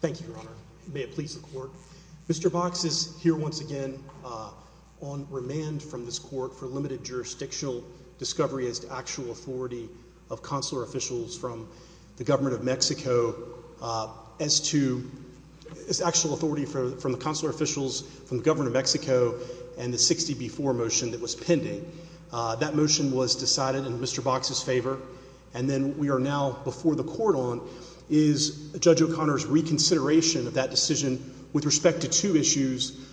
Thank you, Your Honor. May it please the Court. Mr. Box is here once again on remand from this court for limited jurisdictional discovery as to actual authority of consular officials from the Government of Mexico as to its actual authority from the consular officials from the Government of Mexico and the 60B4 motion that was pending. That motion was decided in Mr. Box's favor and then we are now before the Court on is Judge O'Connor's reconsideration of that decision with respect to two issues,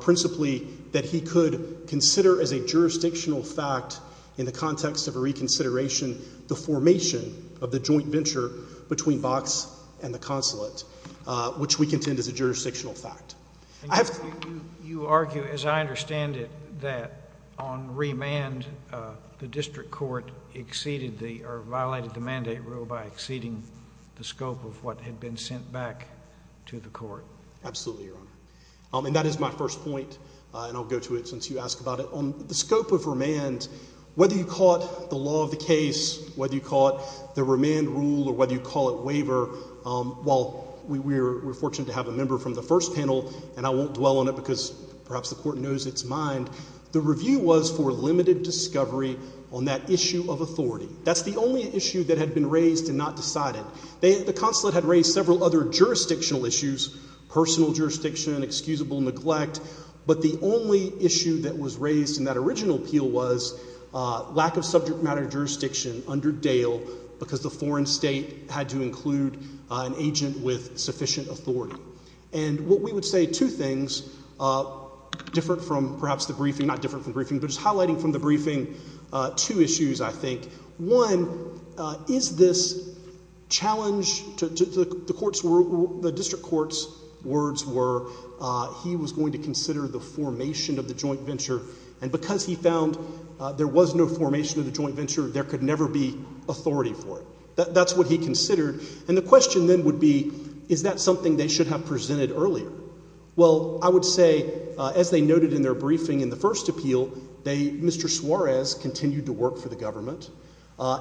principally that he could consider as a jurisdictional fact in the context of a reconsideration the formation of the joint venture between Box and the consulate, which we contend is a jurisdictional fact. I have... You argue, as I understand it, that on remand the mandate rule by exceeding the scope of what had been sent back to the Court. Absolutely, Your Honor. And that is my first point, and I'll go to it since you asked about it. On the scope of remand, whether you call it the law of the case, whether you call it the remand rule, or whether you call it waiver, while we were fortunate to have a member from the first panel, and I won't dwell on it because perhaps the Court knows its mind, the review was for limited discovery on that issue of authority. That's the only issue that had been raised and not decided. The consulate had raised several other jurisdictional issues, personal jurisdiction, excusable neglect, but the only issue that was raised in that original appeal was lack of subject matter jurisdiction under Dale because the foreign state had to include an agent with sufficient authority. And what we would say two things, different from perhaps the briefing, not different from the briefing, but just highlighting from the briefing two issues, I think. One, is this challenge to the court's, the district court's words were he was going to consider the formation of the joint venture, and because he found there was no formation of the joint venture, there could never be authority for it. That's what he considered. And the question then would be, is that something they should have presented earlier? Well, I would say as they noted in their briefing in the first appeal, they, Mr. Suarez continued to work for the government.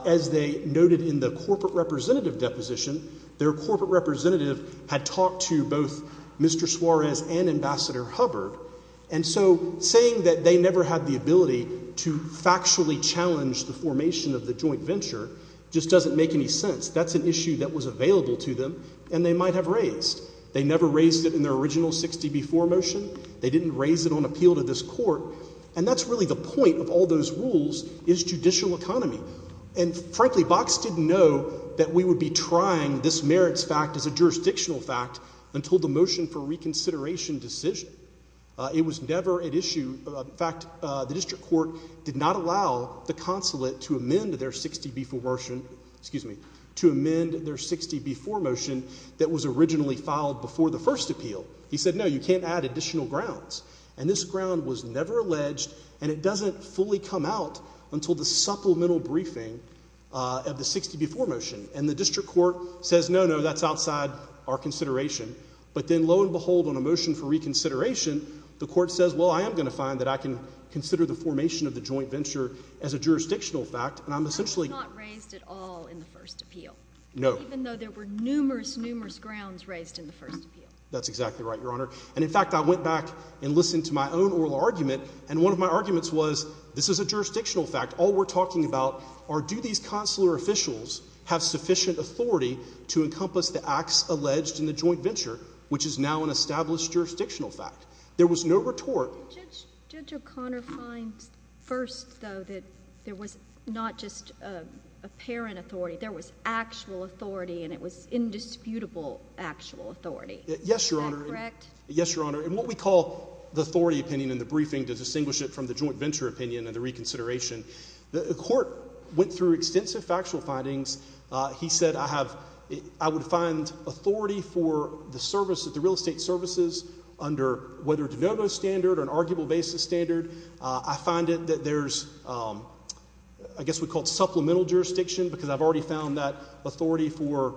As they noted in the corporate representative deposition, their corporate representative had talked to both Mr. Suarez and Ambassador Hubbard, and so saying that they never had the ability to factually challenge the formation of the joint venture just doesn't make any sense. That's an issue that was available to them, and they might have raised. They never raised it in their original 60 before motion. They didn't raise it on appeal to this court, and that's really the point of all those rules, is judicial economy. And frankly, Box didn't know that we would be trying this merits fact as a jurisdictional fact until the motion for reconsideration decision. It was never an issue, in fact, the district court did not allow the consulate to amend their 60 before motion, excuse me, to amend their 60 before motion that was originally filed before the first appeal. He said, no, you can't add additional grounds. And this ground was never alleged, and it doesn't fully come out until the supplemental briefing of the 60 before motion. And the district court says, no, no, that's outside our consideration. But then, lo and behold, on a motion for reconsideration, the court says, well, I am going to find that I can consider the formation of the joint venture as a jurisdictional fact. And I'm essentially not raised at all in the first appeal, even though there were numerous, numerous grounds raised in the first appeal. That's exactly right, Your Honor. And, in fact, I went back and listened to my own oral argument, and one of my arguments was, this is a jurisdictional fact. All we're talking about are, do these consular officials have sufficient authority to encompass the acts alleged in the joint venture, which is now an established jurisdictional fact? There was no retort. Judge O'Connor finds first, though, that there was not just apparent authority. There was actual authority, and it was indisputable actual authority. Yes, Your Honor. Yes, Your Honor. In what we call the authority opinion in the briefing, to distinguish it from the joint venture opinion and the reconsideration, the court went through extensive factual findings. He said, I have, I would find authority for the service at the real estate services under whether DeNovo standard or an arguable basis standard. I find it that there's, I guess we call it supplemental jurisdiction, because I've already found that footnote,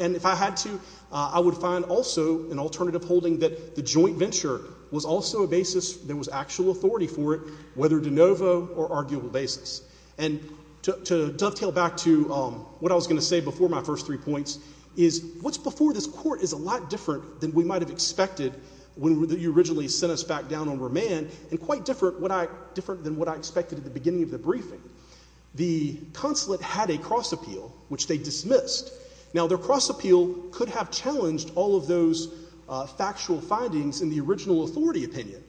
and if I had to, I would find also an alternative holding that the joint venture was also a basis, there was actual authority for it, whether DeNovo or arguable basis. And to dovetail back to what I was going to say before my first three points is, what's before this court is a lot different than we might have expected when you originally sent us back down on remand, and quite different than what I expected at the beginning of the briefing. The consulate had a cross appeal, which they dismissed. Now, their cross appeal could have challenged all of those factual findings in the original authority opinion,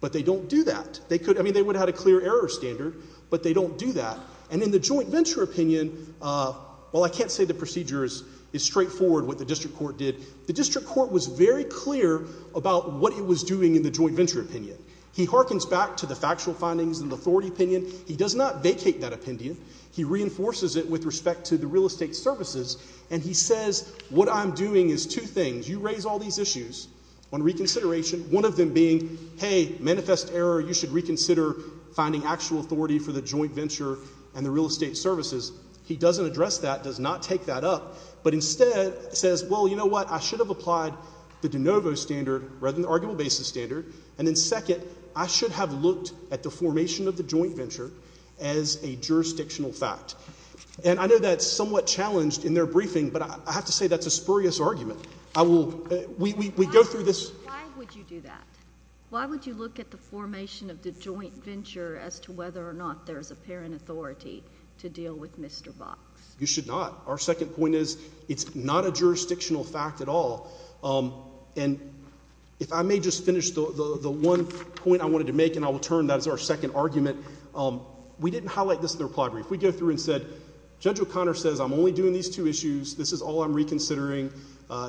but they don't do that. They could, I mean, they would have had a clear error standard, but they don't do that. And in the joint venture opinion, while I can't say the procedure is straightforward, what the district court did, the district court was very clear about what it was doing in the joint venture opinion. He hearkens back to the factual findings in the authority opinion. He does not vacate that opinion. He reinforces it with respect to the real estate services. And he says, what I'm doing is two things. You raise all these issues on reconsideration, one of them being, hey, manifest error, you should reconsider finding actual authority for the joint venture and the real estate services. He doesn't address that, does not take that up, but instead says, well, you know what, I should have applied the DeNovo standard rather than formation of the joint venture as a jurisdictional fact. And I know that's somewhat challenged in their briefing, but I have to say that's a spurious argument. I will, we go through this. Why would you do that? Why would you look at the formation of the joint venture as to whether or not there's a parent authority to deal with Mr. Box? You should not. Our second point is, it's not a jurisdictional fact at all. And if I may just finish the one point I wanted to make, and I will turn that as our second argument, we didn't highlight this in the reply brief. We go through and said, Judge O'Connor says I'm only doing these two issues. This is all I'm reconsidering.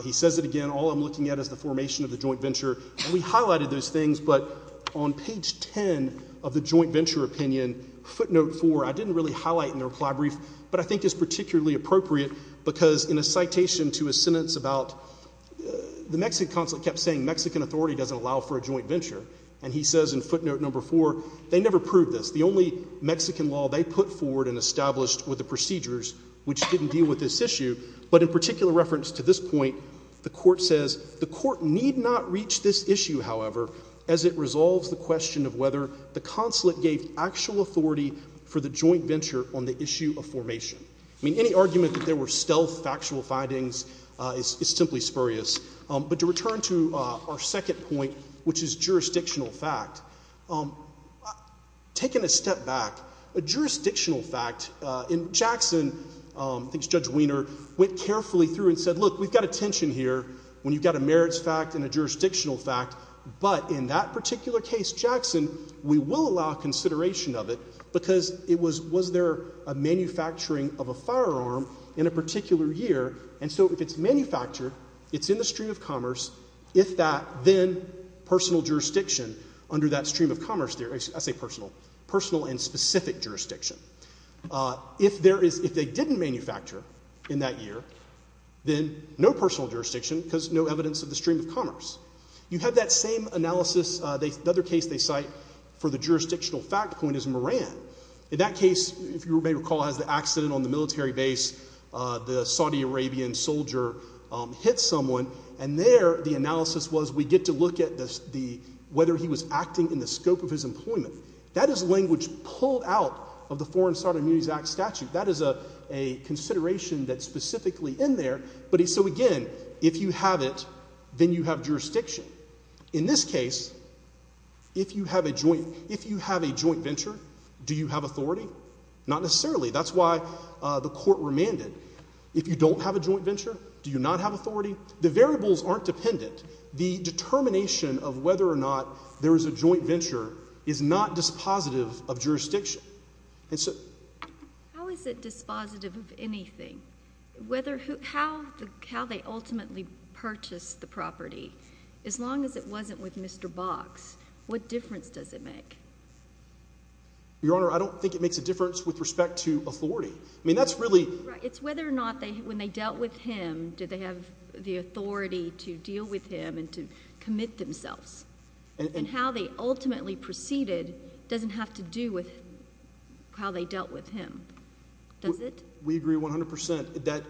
He says it again. All I'm looking at is the formation of the joint venture. And we highlighted those things. But on page 10 of the joint venture opinion, footnote four, I didn't really highlight in the reply brief, but I think it's particularly appropriate because in a citation to a sentence about, the Mexican consulate kept saying Mexican authority doesn't allow for a joint venture. Footnote four, they never proved this. The only Mexican law they put forward and established were the procedures which didn't deal with this issue. But in particular reference to this point, the court says the court need not reach this issue, however, as it resolves the question of whether the consulate gave actual authority for the joint venture on the issue of formation. I mean, any argument that there were stealth factual findings is simply spurious. But to return to our second point, which is jurisdictional fact, taking a step back, a jurisdictional fact in Jackson, I think it's Judge Wiener, went carefully through and said, look, we've got a tension here when you've got a merits fact and a jurisdictional fact. But in that particular case, Jackson, we will allow consideration of it because it was, was there a manufacturing of a firearm in a particular year? And so if it's manufactured, it's in the stream of commerce, if that, then personal jurisdiction under that stream of commerce, I say personal, personal and specific jurisdiction. If there is, if they didn't manufacture in that year, then no personal jurisdiction because no evidence of the stream of commerce. You have that same analysis, the other case they cite for the jurisdictional fact point is Moran. In that case, if you may recall, has the accident on the military base, the Saudi Arabian soldier hit someone. And there the analysis was, we get to look at this, the, whether he was acting in the scope of his employment. That is language pulled out of the Foreign Saudi Immunities Act statute. That is a, a consideration that's specifically in there. But he, so again, if you have it, then you have jurisdiction. In this case, if you have a joint, if you have a joint venture, do you have authority? Not necessarily. That's why the court remanded. If you don't have a joint venture, do you not have authority? The variables aren't dependent. The determination of whether or not there is a joint venture is not dispositive of jurisdiction. And so... How is it dispositive of anything? Whether who, how the, how they ultimately purchased the property? As long as it wasn't with Mr. Box, what difference does it make? Your Honor, I don't think it makes a difference with respect to authority. I mean, that's really... Right. It's whether or not they, when they dealt with him, did they have the authority to deal with him and to commit themselves. And how they ultimately proceeded doesn't have to do with how they dealt with him. Does it? We agree 100% that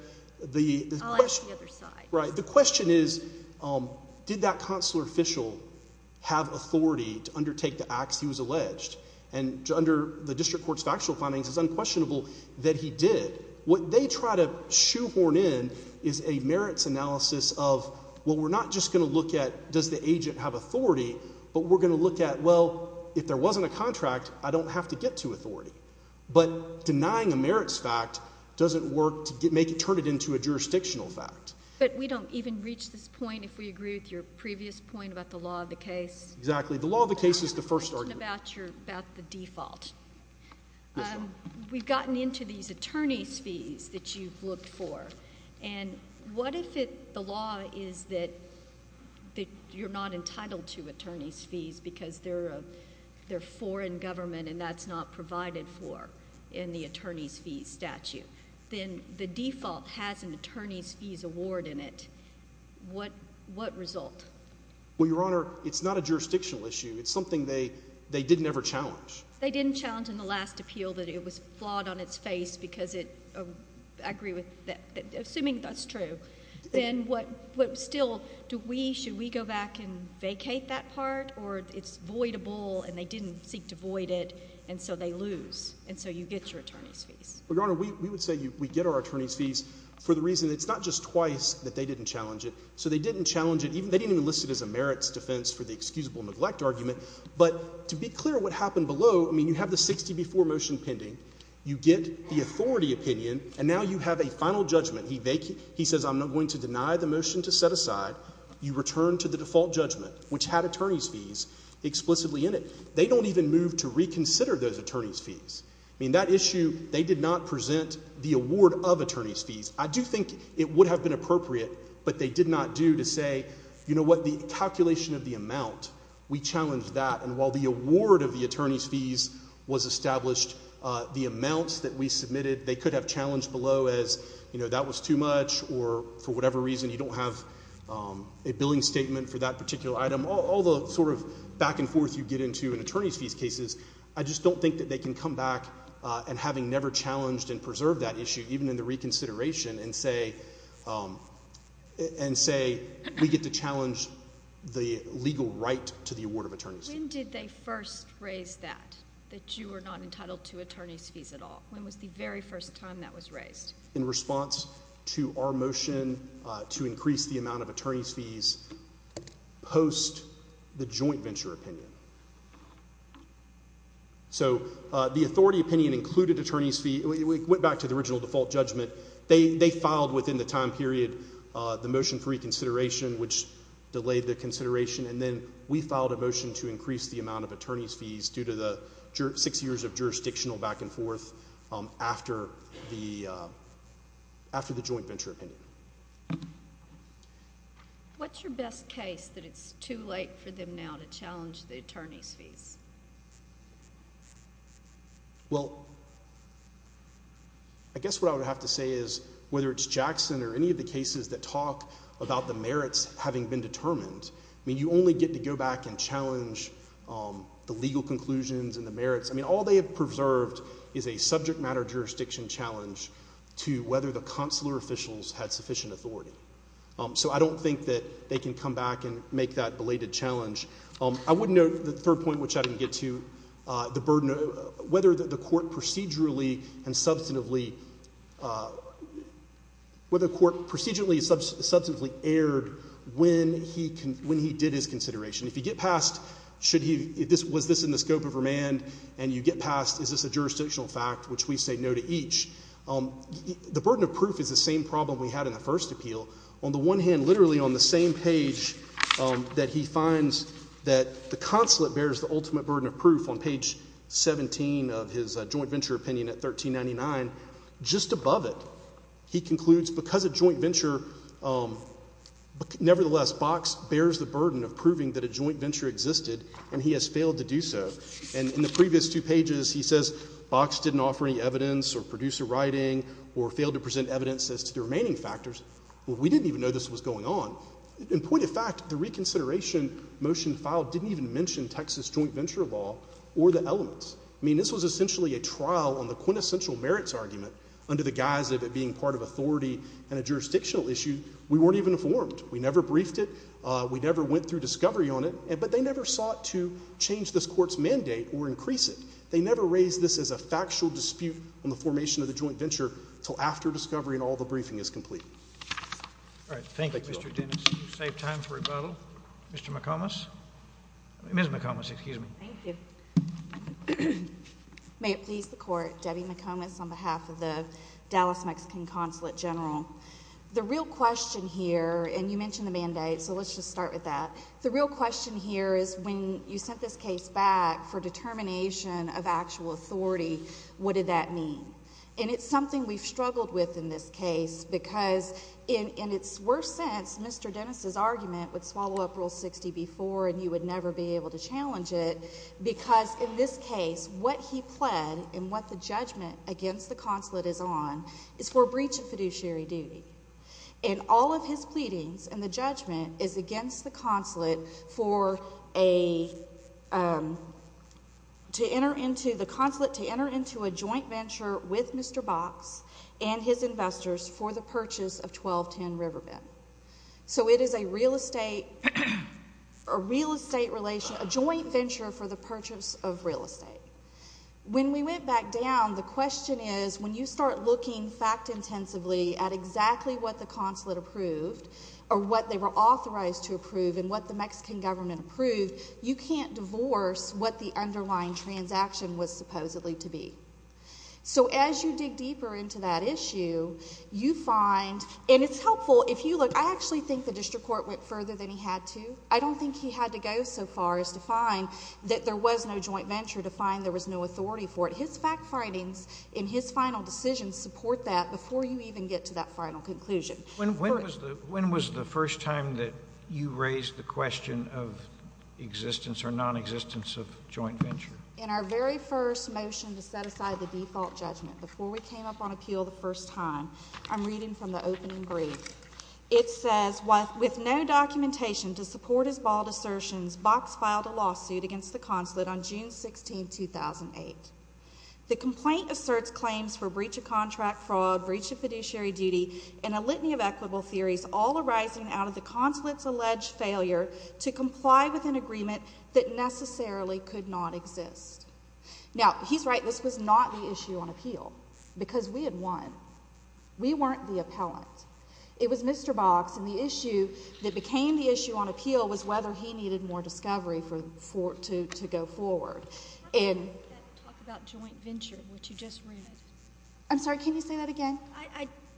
the... I'll ask the other side. Right. The question is, did that consular official have authority to undertake the acts he was alleged? And under the district court's factual findings, it's unquestionable that he did. What they try to shoehorn in is a merits analysis of, well, we're not just going to look at does the agent have authority, but we're going to look at, well, if there wasn't a contract, I don't have to get to authority. But denying a merits fact doesn't work to make it, turn it into a jurisdictional fact. But we don't even reach this point if we agree with your previous point about the law of case. Exactly. The law of the case is the first argument. About the default. We've gotten into these attorney's fees that you've looked for. And what if the law is that you're not entitled to attorney's fees because they're foreign government and that's not provided for in the attorney's fees statute? Then the default has an attorney's fees award in it. What result? Well, Your Honor, it's not a jurisdictional issue. It's something they didn't ever challenge. They didn't challenge in the last appeal that it was flawed on its face because it, I agree with that, assuming that's true. Then what still, do we, should we go back and vacate that part? Or it's voidable and they didn't seek to void it and so they lose. And so you get your attorney's fees. Well, Your Honor, we would say we get our attorney's fees for the So they didn't challenge it. They didn't even list it as a merits defense for the excusable neglect argument. But to be clear what happened below, I mean, you have the 60 before motion pending. You get the authority opinion and now you have a final judgment. He says I'm not going to deny the motion to set aside. You return to the default judgment, which had attorney's fees explicitly in it. They don't even move to reconsider those attorney's fees. I mean, that issue, they did not present the award of attorney's fees. I do think it would have been appropriate, but they did not do to say, you know what, the calculation of the amount, we challenged that. And while the award of the attorney's fees was established, the amounts that we submitted, they could have challenged below as, you know, that was too much or for whatever reason you don't have a billing statement for that particular item. All the sort of back and forth you get into an attorney's fees cases. I just don't think that they can come back and having never challenged and preserve that issue, even in the reconsideration and say, um, and say we get to challenge the legal right to the award of attorneys. When did they first raise that, that you were not entitled to attorney's fees at all? When was the very first time that was raised in response to our motion to increase the amount of attorney's fees post the joint venture opinion? So, the authority opinion included attorney's fees. We went back to the original default judgment. They filed within the time period the motion for reconsideration, which delayed the consideration, and then we filed a motion to increase the amount of attorney's fees due to the six years of jurisdictional back and forth after the joint venture opinion. What's your best case that it's too late for them now to challenge the attorney's fees? Well, I guess what I would have to say is whether it's Jackson or any of the cases that talk about the merits having been determined, I mean, you only get to go back and challenge the legal conclusions and the merits. I mean, all they have preserved is a subject matter jurisdiction challenge to whether the consular officials had sufficient authority. So, I don't think that they can come back and make that belated challenge. I wouldn't know the third point, which I didn't get to, the burden of whether the court procedurally and substantively erred when he did his consideration. If you get past, was this in the scope of remand, and you get past, is this a jurisdictional fact, which we say no to each, the burden of proof is the same problem we had in the first appeal. On the one hand, literally on the same page that he finds that the consulate bears the ultimate burden of proof on page 17 of his joint venture opinion at 1399, just above it, he concludes because a joint venture, nevertheless, Bachs bears the burden of proving that a joint venture existed, and he has failed to do so. And in the previous two pages, he says, Bachs didn't offer any evidence or produce a writing or fail to present evidence as to the remaining factors. Well, we didn't even know this was going on. In point of fact, the reconsideration motion filed didn't even mention Texas joint venture law or the elements. I mean, this was essentially a trial on the quintessential merits argument under the guise of it being part of authority and a jurisdictional issue. We weren't even informed. We never briefed it. We never went through discovery on it, but they never sought to change this court's mandate or increase it. They never raised this as a factual dispute on the formation of the joint venture until after discovery and all the briefing is complete. All right. Thank you, Mr. Dennis. Save time for rebuttal. Mr. McComas, Ms. McComas, excuse me. Thank you. May it please the court. Debbie McComas on behalf of the Dallas Mexican Consulate General. The real question here, and you mentioned the mandate, so let's just start with that. The real question here is when you sent this case back for determination of actual authority, what did that mean? And it's something we've struggled with in this case because in its worst sense, Mr. Dennis's argument would swallow up Rule 60 before and you would never be able to challenge it because in this case, what he pled and what the judgment against the consulate is on is for breach of fiduciary duty. And all of his pleadings and the judgment is against the consulate to enter into a joint venture with Mr. Box and his investors for the purchase of 1210 Riverbend. So it is a real estate relation, a joint venture for the purchase of real estate. When we went back down, the question is when you start looking fact intensively at exactly what the consulate approved or what they were authorized to approve and what the Mexican government approved, you can't divorce what the underlying transaction was supposedly to be. So as you dig deeper into that issue, you find, and it's helpful if you look, I actually think the district court went further than he had to. I don't think he had to go so far as to find that there was no joint venture, to find there was no authority for it. But his fact findings in his final decision support that before you even get to that final conclusion. When was the first time that you raised the question of existence or non-existence of joint venture? In our very first motion to set aside the default judgment, before we came up on appeal the first time, I'm reading from the opening brief. It says, with no documentation to support his bald assertions, Box filed a lawsuit against the consulate on June 16, 2008. The complaint asserts claims for breach of contract fraud, breach of fiduciary duty, and a litany of equitable theories, all arising out of the consulate's alleged failure to comply with an agreement that necessarily could not exist. Now, he's right. This was not the issue on appeal because we had won. We weren't the appellant. It was Mr. Box and the issue that was on appeal was whether he needed more discovery to go forward. I'm sorry. Can you say that again?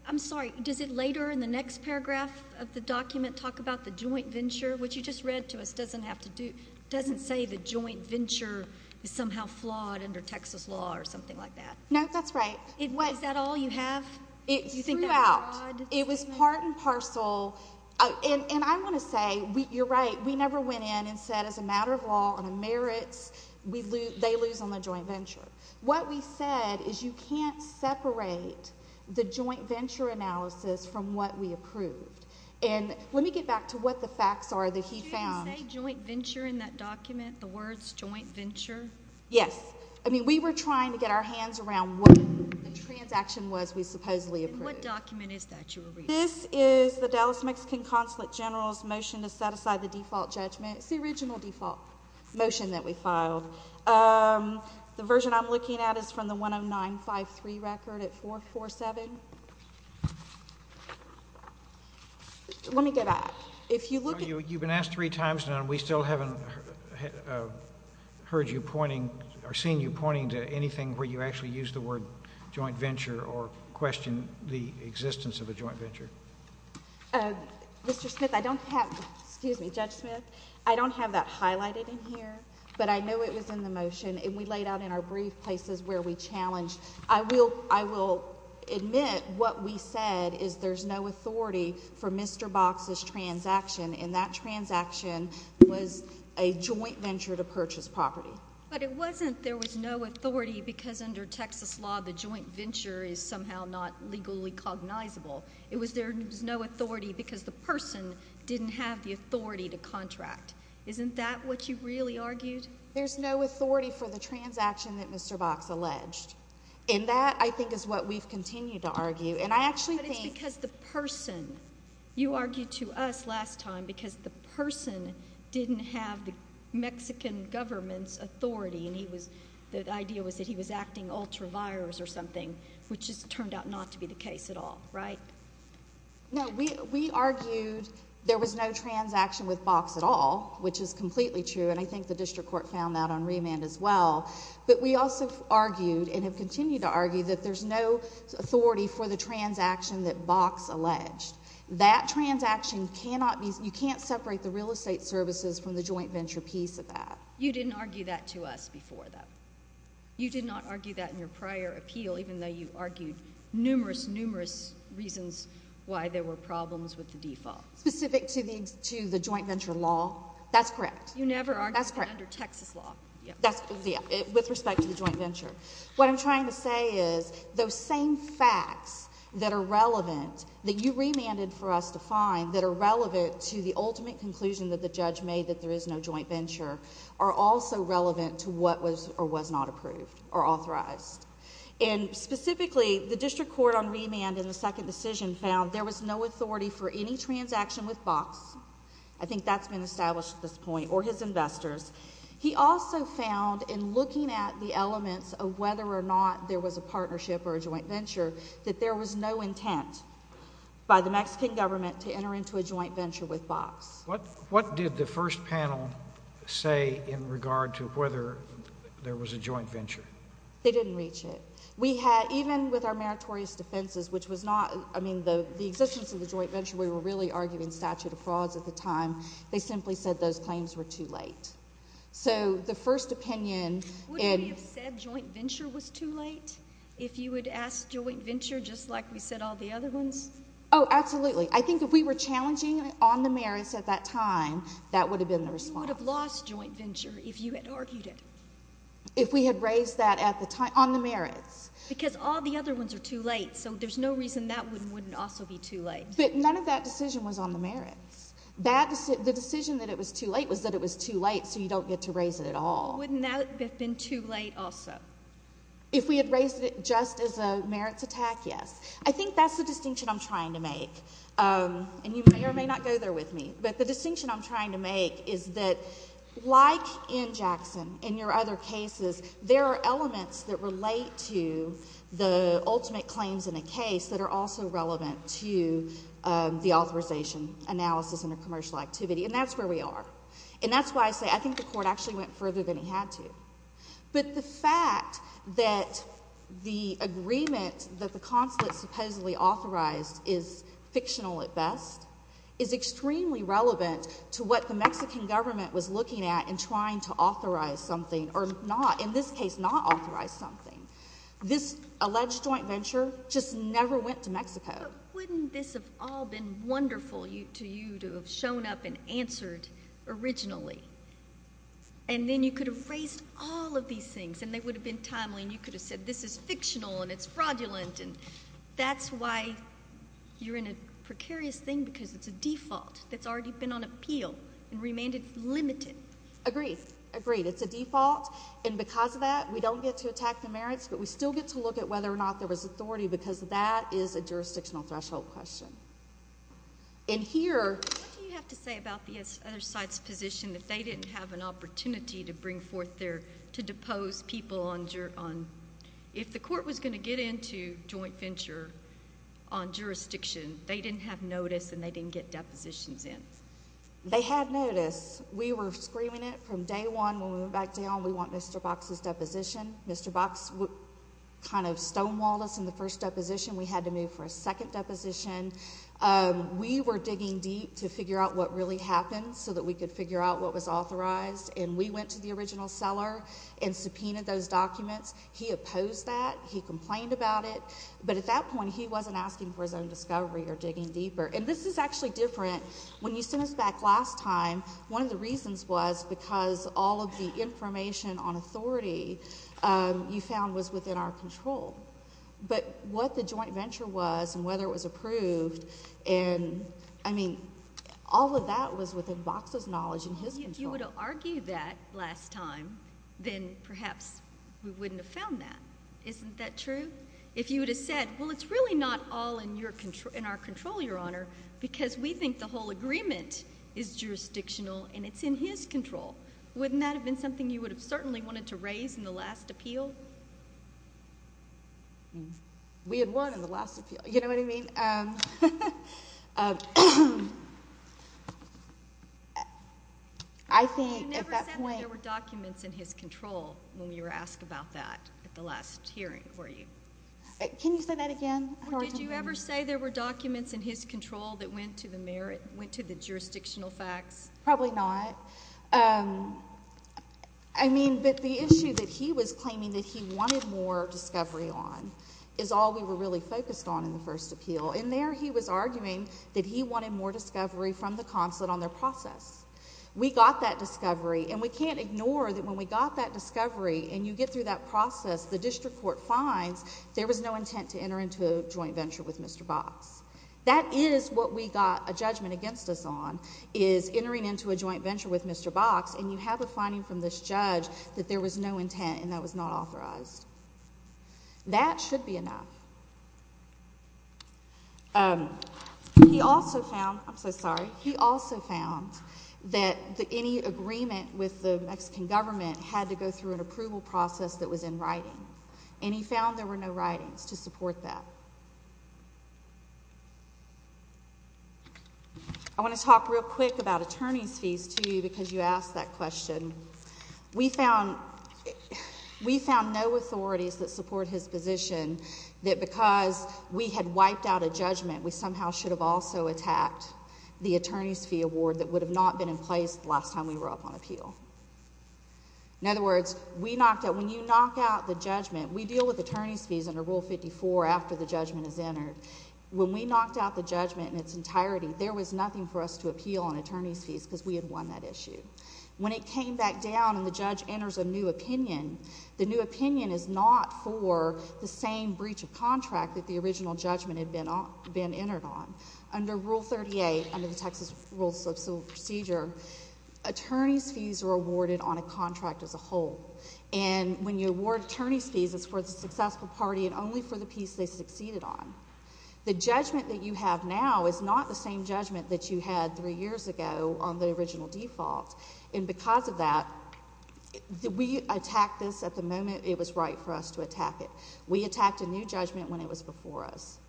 I'm sorry. Does it later in the next paragraph of the document talk about the joint venture, which you just read to us doesn't have to do, doesn't say the joint venture is somehow flawed under Texas law or something like that? No, that's right. Is that all you have? It's throughout. It was part and parcel. I want to say, you're right, we never went in and said, as a matter of law, on a merits, they lose on the joint venture. What we said is you can't separate the joint venture analysis from what we approved. Let me get back to what the facts are that he found. Did you say joint venture in that document, the words joint venture? Yes. We were trying to get our hands around what the transaction was we supposedly approved. What document is that you were reading? This is the Dallas Mexican Consulate General's motion to set aside the default judgment. It's the original default motion that we filed. The version I'm looking at is from the 10953 record at 447. Let me get back. You've been asked three times and we still haven't heard you pointing or seen you pointing to anything where you actually used the word joint venture or questioned the existence of a joint venture. Mr. Smith, I don't have, excuse me, Judge Smith, I don't have that highlighted in here, but I know it was in the motion and we laid out in our brief places where we challenged. I will admit what we said is there's no authority for Mr. Box's transaction and that transaction was a joint venture to purchase property. But it wasn't there was no authority because under Texas law the joint venture is somehow not legally cognizable. It was there was no authority because the person didn't have the authority to contract. Isn't that what you really argued? There's no authority for the transaction that Mr. Box alleged. And that, I think, is what we've continued to argue. But it's because the person, you argued to us last time, because the person didn't have the Mexican government's authority and the idea was that he was acting ultra vires or something, which just turned out not to be the case at all, right? No, we argued there was no transaction with Box at all, which is completely true, and I think the district court found that on remand as well. But we also argued and have continued to argue that there's no authority for the transaction that Box alleged. That transaction cannot be you can't separate the real estate services from the joint venture piece of that. You didn't argue that to us before, though. You did not argue that in your prior appeal, even though you argued numerous, numerous reasons why there were problems with the default. Specific to the joint venture law? That's correct. You never argued that under Texas law. With respect to the joint venture. What I'm trying to say is those same facts that are relevant that you remanded for us to find that are relevant to the ultimate conclusion that the judge made that there is no joint venture are also relevant to what was or was not approved or authorized. And specifically, the district court on remand in the second decision found there was no authority for any transaction with Box. I think that's been established at this point, or his investors. He also found in looking at the elements of whether or not there was a partnership or a by the Mexican government to enter into a joint venture with Box. What did the first panel say in regard to whether there was a joint venture? They didn't reach it. We had, even with our meritorious defenses, which was not, I mean, the existence of the joint venture, we were really arguing statute of frauds at the time. They simply said those claims were too late. So the first opinion in. Would we have said joint venture was too late? If you would ask joint venture, just like we said all the other ones? Oh, absolutely. I think if we were challenging on the merits at that time, that would have been the response. You would have lost joint venture if you had argued it. If we had raised that at the time on the merits. Because all the other ones are too late. So there's no reason that wouldn't also be too late. But none of that decision was on the merits. The decision that it was too late was that it was too late, so you don't get to raise it at all. Wouldn't that have been too late also? If we had raised it just as a merits attack, yes. I think that's the distinction I'm trying to make. And you may or may not go there with me. But the distinction I'm trying to make is that, like in Jackson, in your other cases, there are elements that relate to the ultimate claims in a case that are also relevant to the authorization analysis in a commercial activity. And that's where we are. And that's why I say I think the Court actually went further than it had to. But the fact that the agreement that the consulate supposedly authorized is fictional at best, is extremely relevant to what the Mexican government was looking at in trying to authorize something or not, in this case, not authorize something. This alleged joint venture just never went to Mexico. But wouldn't this have all been wonderful to you to have shown up and all of these things? And they would have been timely. And you could have said, this is fictional and it's fraudulent. And that's why you're in a precarious thing, because it's a default that's already been on appeal and remanded limited. Agreed. Agreed. It's a default. And because of that, we don't get to attack the merits, but we still get to look at whether or not there was authority, because that is a jurisdictional threshold question. And here— What do you have to say about the other side's position that they didn't have an opportunity to bring forth their—to depose people on—if the court was going to get into joint venture on jurisdiction, they didn't have notice and they didn't get depositions in? They had notice. We were screaming it from day one when we went back down, we want Mr. Box's deposition. Mr. Box kind of stonewalled us in the first deposition. We had to move for a second deposition. We were digging deep to figure out what really happened so that we could figure out what was authorized. And we went to the original seller and subpoenaed those documents. He opposed that. He complained about it. But at that point, he wasn't asking for his own discovery or digging deeper. And this is actually different. When you sent us back last time, one of the reasons was because all of the information on authority you found was within our control. But what the joint venture was and whether it was approved and—I mean, all of that was within Box's knowledge and his control. If you would have argued that last time, then perhaps we wouldn't have found that. Isn't that true? If you would have said, well, it's really not all in our control, Your Honor, because we think the whole agreement is jurisdictional and it's in his control, wouldn't that have been something you would have certainly wanted to raise in the last appeal? We had won in the last appeal. You know what I mean? I think at that point— You never said that there were documents in his control when we were asked about that at the last hearing, were you? Can you say that again? Did you ever say there were documents in his control that went to the merit, went to the jurisdictional facts? We got that discovery, and we can't ignore that when we got that discovery and you get through that process, the district court finds there was no intent to enter into a joint venture with Mr. Box. That is what we got a judgment against us on, is entering into a joint venture with Mr. Box, and you have a finding from this judge that there was no intent to enter into a joint venture with Mr. Box. That should be enough. He also found—I'm so sorry—he also found that any agreement with the Mexican government had to go through an approval process that was in writing, and he found there were no writings to support that. I want to talk real quick about attorney's fees, too, because you asked that question. We found no authorities that support his position that because we had wiped out a judgment, we somehow should have also attacked the attorney's fee award that would have not been in place the last time we were up on appeal. In other words, we knocked out—when you knock out the judgment, we deal with attorney's fees under Rule 54 after the judgment is entered. When we knocked out the judgment in its entirety, there was nothing for us to appeal on attorney's fees because we had won that issue. When it came back down and the judge enters a new opinion, the new opinion is not for the same breach of contract that the original judgment had been entered on. Under Rule 38, under the Texas Rules of Civil Procedure, attorney's fees are awarded on a contract as a whole, and when you award attorney's fees, it's for the successful party and only for the piece they succeeded on. The judgment that you have now is not the same judgment that you had three years ago on the original default, and because of that, we attacked this at the moment it was right for us to attack it. We attacked a new judgment when it was before us,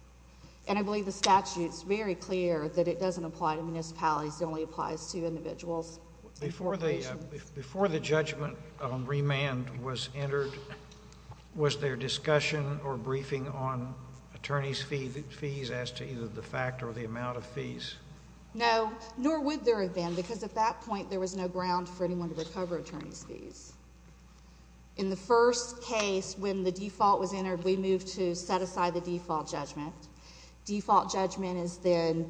and I believe the statute is very clear that it doesn't apply to municipalities. It only applies to individuals. Before the judgment on remand was entered, was there discussion or briefing on attorney's fees as to either the fact or the amount of fees? No, nor would there have been, because at that point, there was no ground for anyone to recover attorney's fees. In the first case, when the default was entered, we moved to set aside the default judgment. Default judgment is then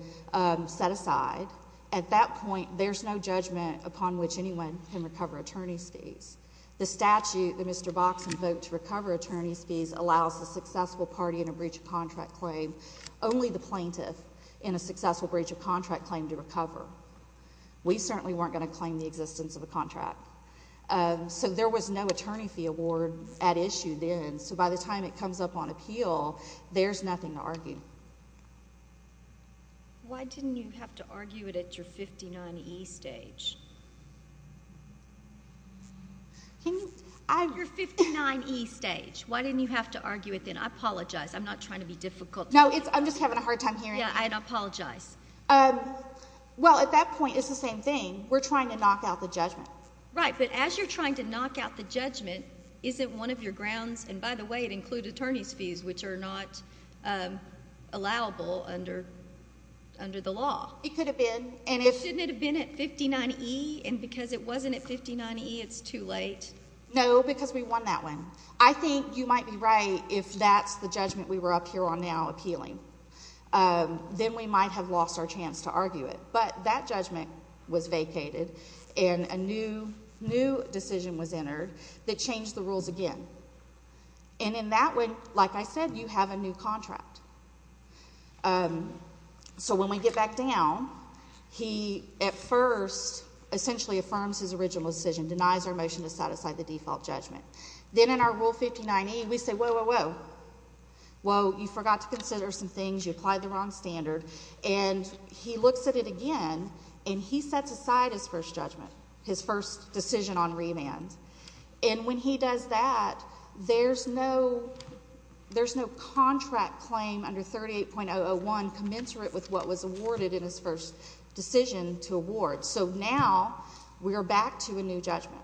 set aside. At that point, there's no judgment upon which anyone can recover attorney's fees. The statute that Mr. Box invoked to recover attorney's fees allows the successful party in a breach of contract claim only the plaintiff in a successful breach of contract claim to recover. We certainly weren't going to claim the existence of a contract, so there was no attorney fee award at issue then, so by the time it comes up on appeal, there's nothing to argue. Why didn't you have to argue it at your 59E stage? Your 59E stage. Why didn't you have to argue it then? I apologize. I'm not trying to be difficult. No, I'm just having a hard time hearing you. Yeah, I apologize. Well, at that point, it's the same thing. We're trying to knock out the judgment. Right, but as you're trying to knock out the judgment, isn't one of your grounds—and by the way, it included attorney's fees, which are not allowable under the law. It could have been, and if— Shouldn't it have been at 59E, and because it wasn't at 59E, it's too late? No, because we won that one. I think you might be right if that's the judgment we were up here on now appealing. Then we might have lost our chance to argue it, but that judgment was vacated and a new decision was entered that changed the rules again, and in that way, like I said, you have a new contract, so when we get back down, he at first essentially affirms his original decision, denies our motion to set aside the default judgment. Then in our Rule 59E, we say, whoa, whoa, whoa, whoa, you forgot to consider some things, you applied the wrong standard, and he looks at it again, and he sets aside his first judgment, his first decision on remand, and when he does that, there's no contract claim under 38.001 commensurate with what was awarded in his first decision to award, so now we are back to a new judgment,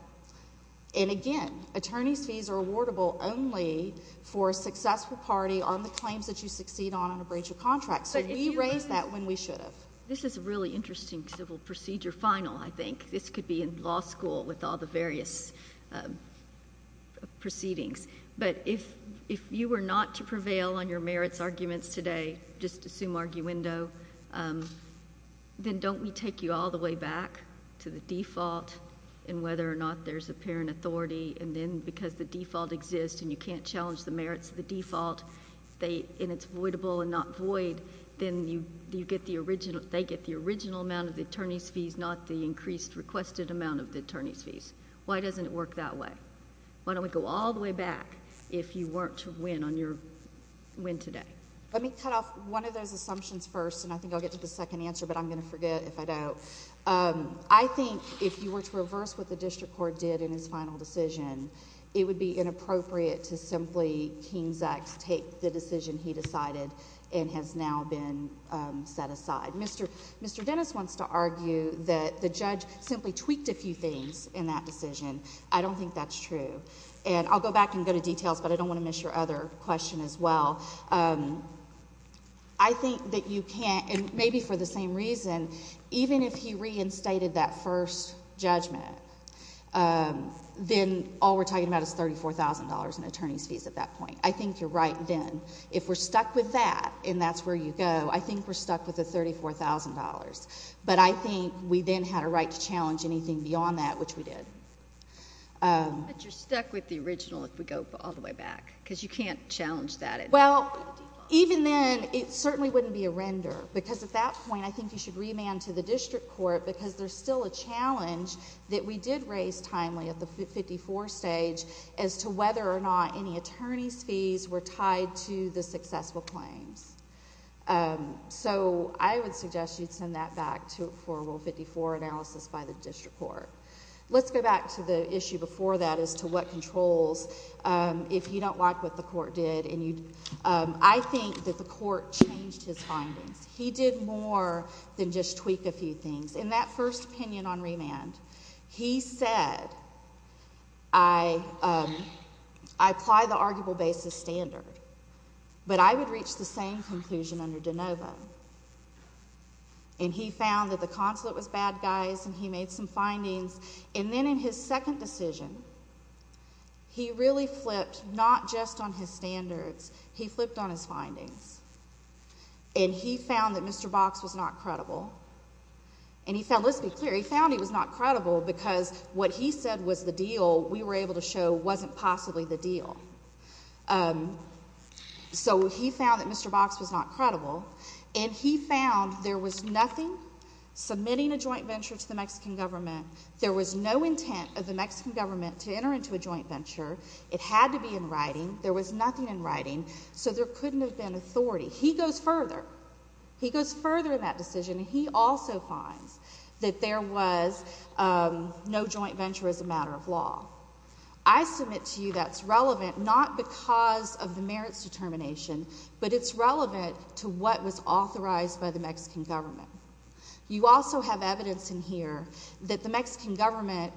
and again, attorney's fees are awardable only for a successful party on the claims that you succeed on in a breach of contract, so we raised that when we should have. This is a really interesting civil procedure final, I think. This could be in law school with all the various proceedings, but if you were not to prevail on your merits arguments today, just assume arguendo, then don't we take you all the way back to the default, and whether or not there's apparent authority, and then because the default exists, and you can't challenge the merits of the default, and it's voidable and not void, then they get the original amount of the attorney's fees, not the increased requested amount of the attorney's fees. Why doesn't it work that way? Why don't we go all the way back if you weren't to win on your win today? Let me cut off one of those assumptions first, and I think I'll get to the second answer, but I'm going to forget if I don't. I think if you were to reverse what the district court did in his final decision, it would be inappropriate to simply King's Act take the decision he decided and has now been set aside. Mr. Dennis wants to argue that the judge simply tweaked a few things in that decision. I don't think that's true, and I'll go back and go to details, but I don't want to miss your other question as well. I think that you can't, and maybe for the same reason, even if he reinstated that first judgment, then all we're talking about is $34,000 in attorney's fees at that point. I think you're right then. If we're stuck with that, and that's where you go, I think we're stuck with the $34,000, but I think we then had a right to challenge anything beyond that, which we did. But you're stuck with the original if we go all the way back, because you can't challenge that. Well, even then, it certainly wouldn't be a render, because at that point, I think you should remand to the district court, because there's still a challenge that we did raise timely at the 54 stage as to whether or not any attorney's fees were tied to the successful claims. I would suggest you'd send that back for Rule 54 analysis by the district court. Let's go back to the issue before that as to what controls, if you don't like what the I think that the court changed his findings. He did more than just tweak a few things. In that first opinion on remand, he said, I apply the arguable basis standard, but I would reach the same conclusion under DeNovo. He found that the consulate was bad guys, and he made some findings, and then in his He flipped on his findings, and he found that Mr. Box was not credible, and he found, let's be clear, he found he was not credible, because what he said was the deal we were able to show wasn't possibly the deal. So he found that Mr. Box was not credible, and he found there was nothing submitting a joint venture to the Mexican government. There was no intent of the Mexican government to enter into a joint venture. It had to be in writing. There was nothing in writing, so there couldn't have been authority. He goes further. He goes further in that decision, and he also finds that there was no joint venture as a matter of law. I submit to you that's relevant not because of the merits determination, but it's relevant to what was authorized by the Mexican government. You also have evidence in here that the Mexican government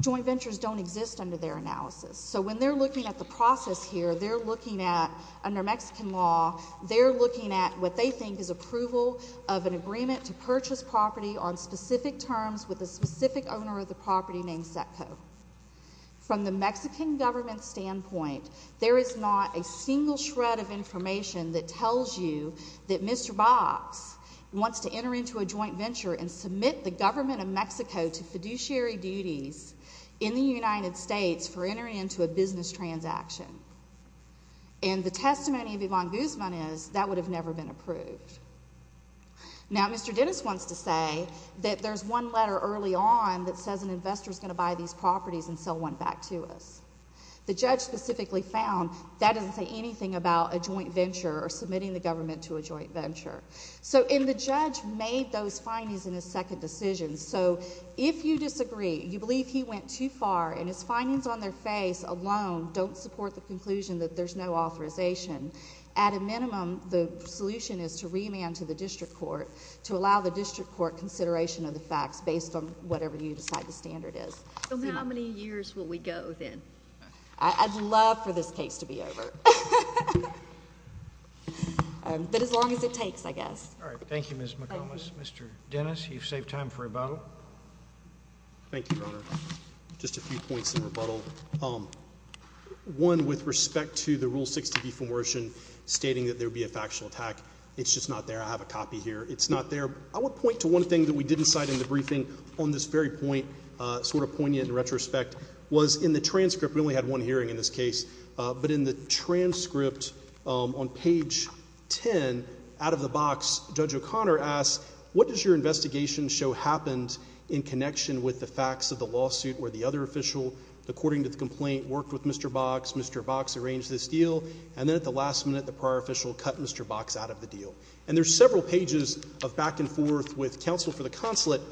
joint ventures don't exist under their analysis. So when they're looking at the process here, they're looking at, under Mexican law, they're looking at what they think is approval of an agreement to purchase property on specific terms with a specific owner of the property named Setco. From the Mexican government's standpoint, there is not a single shred of information that tells you that Mr. Box wants to enter into a joint venture and submit the government of Mexico to fiduciary duties in the United States for entering into a business transaction. And the testimony of Yvonne Guzman is that would have never been approved. Now Mr. Dennis wants to say that there's one letter early on that says an investor's going to buy these properties and sell one back to us. The judge specifically found that doesn't say anything about a joint venture or submitting the government to a joint venture. So and the judge made those findings in his second decision. So if you disagree, you believe he went too far, and his findings on their face alone don't support the conclusion that there's no authorization, at a minimum, the solution is to remand to the district court to allow the district court consideration of the facts based on whatever you decide the standard is. So how many years will we go then? I'd love for this case to be over. But as long as it takes, I guess. All right. Thank you, Ms. McComas. Mr. Dennis, you've saved time for rebuttal. Thank you, Your Honor. Just a few points in rebuttal. One with respect to the Rule 60 defamation stating that there would be a factual attack. It's just not there. I have a copy here. It's not there. I would point to one thing that we didn't cite in the briefing on this very point, sort of poignant in retrospect, was in the transcript, we only had one hearing in this case, but in the transcript on page 10, out of the box, Judge O'Connor asks, what does your investigation show happened in connection with the facts of the lawsuit where the other official, according to the complaint, worked with Mr. Box, Mr. Box arranged this deal, and then at the last minute the prior official cut Mr. Box out of the deal. And there's several pages of back and forth with counsel for the consulate,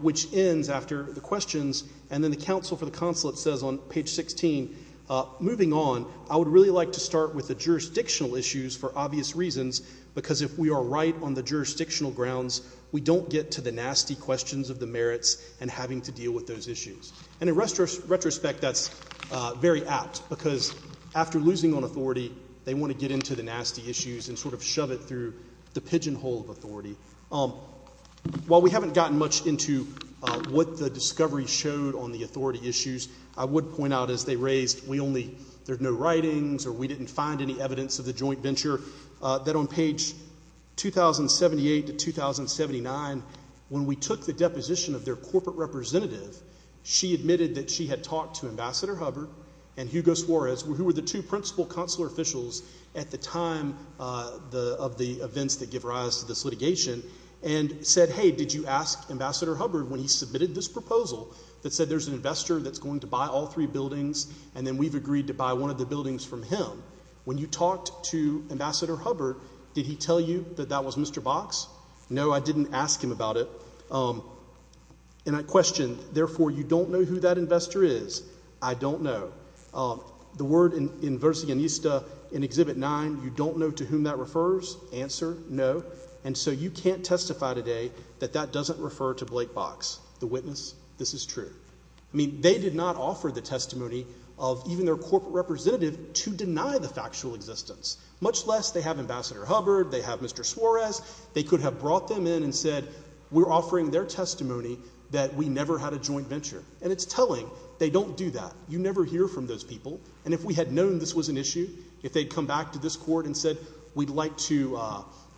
which ends after the questions, and then the counsel for the consulate says on page 16, moving on, I would really like to start with the jurisdictional issues for obvious reasons, because if we are right on the jurisdictional grounds, we don't get to the nasty questions of the merits and having to deal with those issues. And in retrospect, that's very apt, because after losing on authority, they want to get into the nasty issues and sort of shove it through the pigeonhole of authority. While we haven't gotten much into what the discovery showed on the authority issues, I would point out, as they raised, we only, there are no writings or we didn't find any evidence of the joint venture, that on page 2078 to 2079, when we took the deposition of their corporate representative, she admitted that she had talked to Ambassador Hubbard and Hugo Suarez, who were the two principal consular officials at the time of the events that give rise to this litigation, and said, hey, did you ask Ambassador Hubbard when he submitted this proposal that said there's an investor that's going to buy all three buildings and then we've agreed to buy one of the buildings from him? When you talked to Ambassador Hubbard, did he tell you that that was Mr. Box? No, I didn't ask him about it. And I questioned, therefore, you don't know who that investor is? I don't know. The word in Vercingetista in Exhibit 9, you don't know to whom that refers? Answer, no. And so you can't testify today that that doesn't refer to Blake Box, the witness? This is true. I mean, they did not offer the testimony of even their corporate representative to deny the factual existence, much less they have Ambassador Hubbard, they have Mr. Suarez, they could have brought them in and said we're offering their testimony that we never had a joint venture. And it's telling. They don't do that. You never hear from those people. And if we had known this was an issue, if they'd come back to this Court and said we'd like to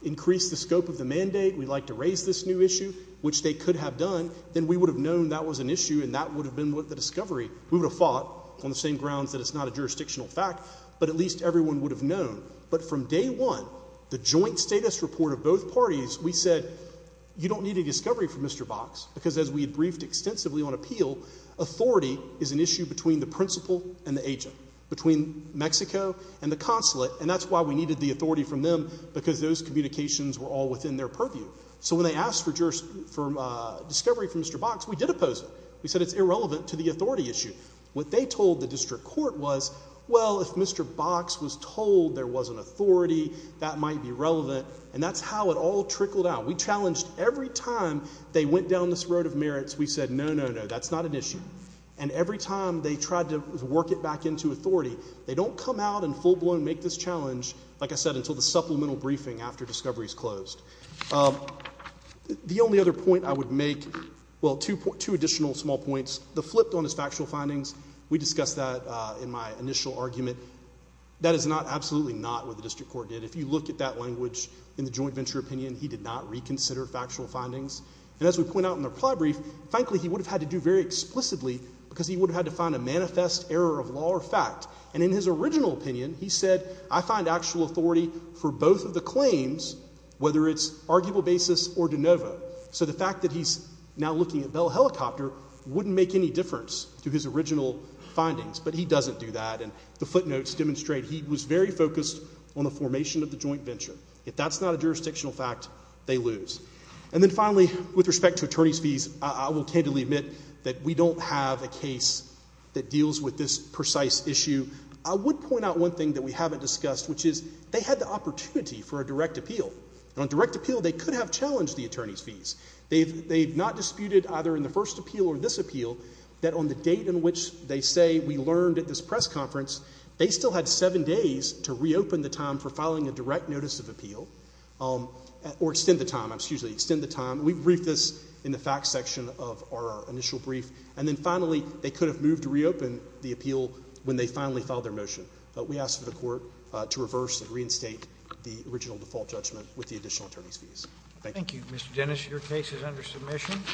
increase the scope of the mandate, we'd like to raise this new issue, which they could have done, then we would have known that was an issue and that would have been the discovery. We would have fought on the same grounds that it's not a jurisdictional fact, but at least everyone would have known. But from day one, the joint status report of both parties, we said you don't need a discovery from Mr. Box because as we had briefed extensively on appeal, authority is an issue between the principal and the agent, between Mexico and the consulate. And that's why we needed the authority from them, because those communications were all within their purview. So when they asked for discovery from Mr. Box, we did oppose it. We said it's irrelevant to the authority issue. What they told the District Court was, well, if Mr. Box was told there was an authority, that might be relevant. And that's how it all trickled out. We challenged every time they went down this road of merits, we said no, no, no, that's not an issue. And every time they tried to work it back into authority, they don't come out and full challenge, like I said, until the supplemental briefing after discovery is closed. The only other point I would make, well, two additional small points. The flip on his factual findings, we discussed that in my initial argument. That is not, absolutely not what the District Court did. If you look at that language in the joint venture opinion, he did not reconsider factual findings. And as we point out in the reply brief, frankly, he would have had to do very explicitly because he would have had to find a manifest error of law or fact. And in his original opinion, he said, I find actual authority for both of the claims, whether it's arguable basis or de novo. So the fact that he's now looking at Bell Helicopter wouldn't make any difference to his original findings. But he doesn't do that. And the footnotes demonstrate he was very focused on the formation of the joint venture. If that's not a jurisdictional fact, they lose. And then finally, with respect to attorney's fees, I will candidly admit that we don't have a case that deals with this precise issue. I would point out one thing that we haven't discussed, which is they had the opportunity for a direct appeal. And on direct appeal, they could have challenged the attorney's fees. They've not disputed either in the first appeal or this appeal that on the date in which they say we learned at this press conference, they still had seven days to reopen the time for filing a direct notice of appeal or extend the time, excuse me, extend the time. We briefed this in the facts section of our initial brief. And then finally, they could have moved to reopen the appeal when they finally filed their motion. But we ask for the court to reverse and reinstate the original default judgment with the additional attorney's fees. Thank you. Thank you, Mr. Dennis.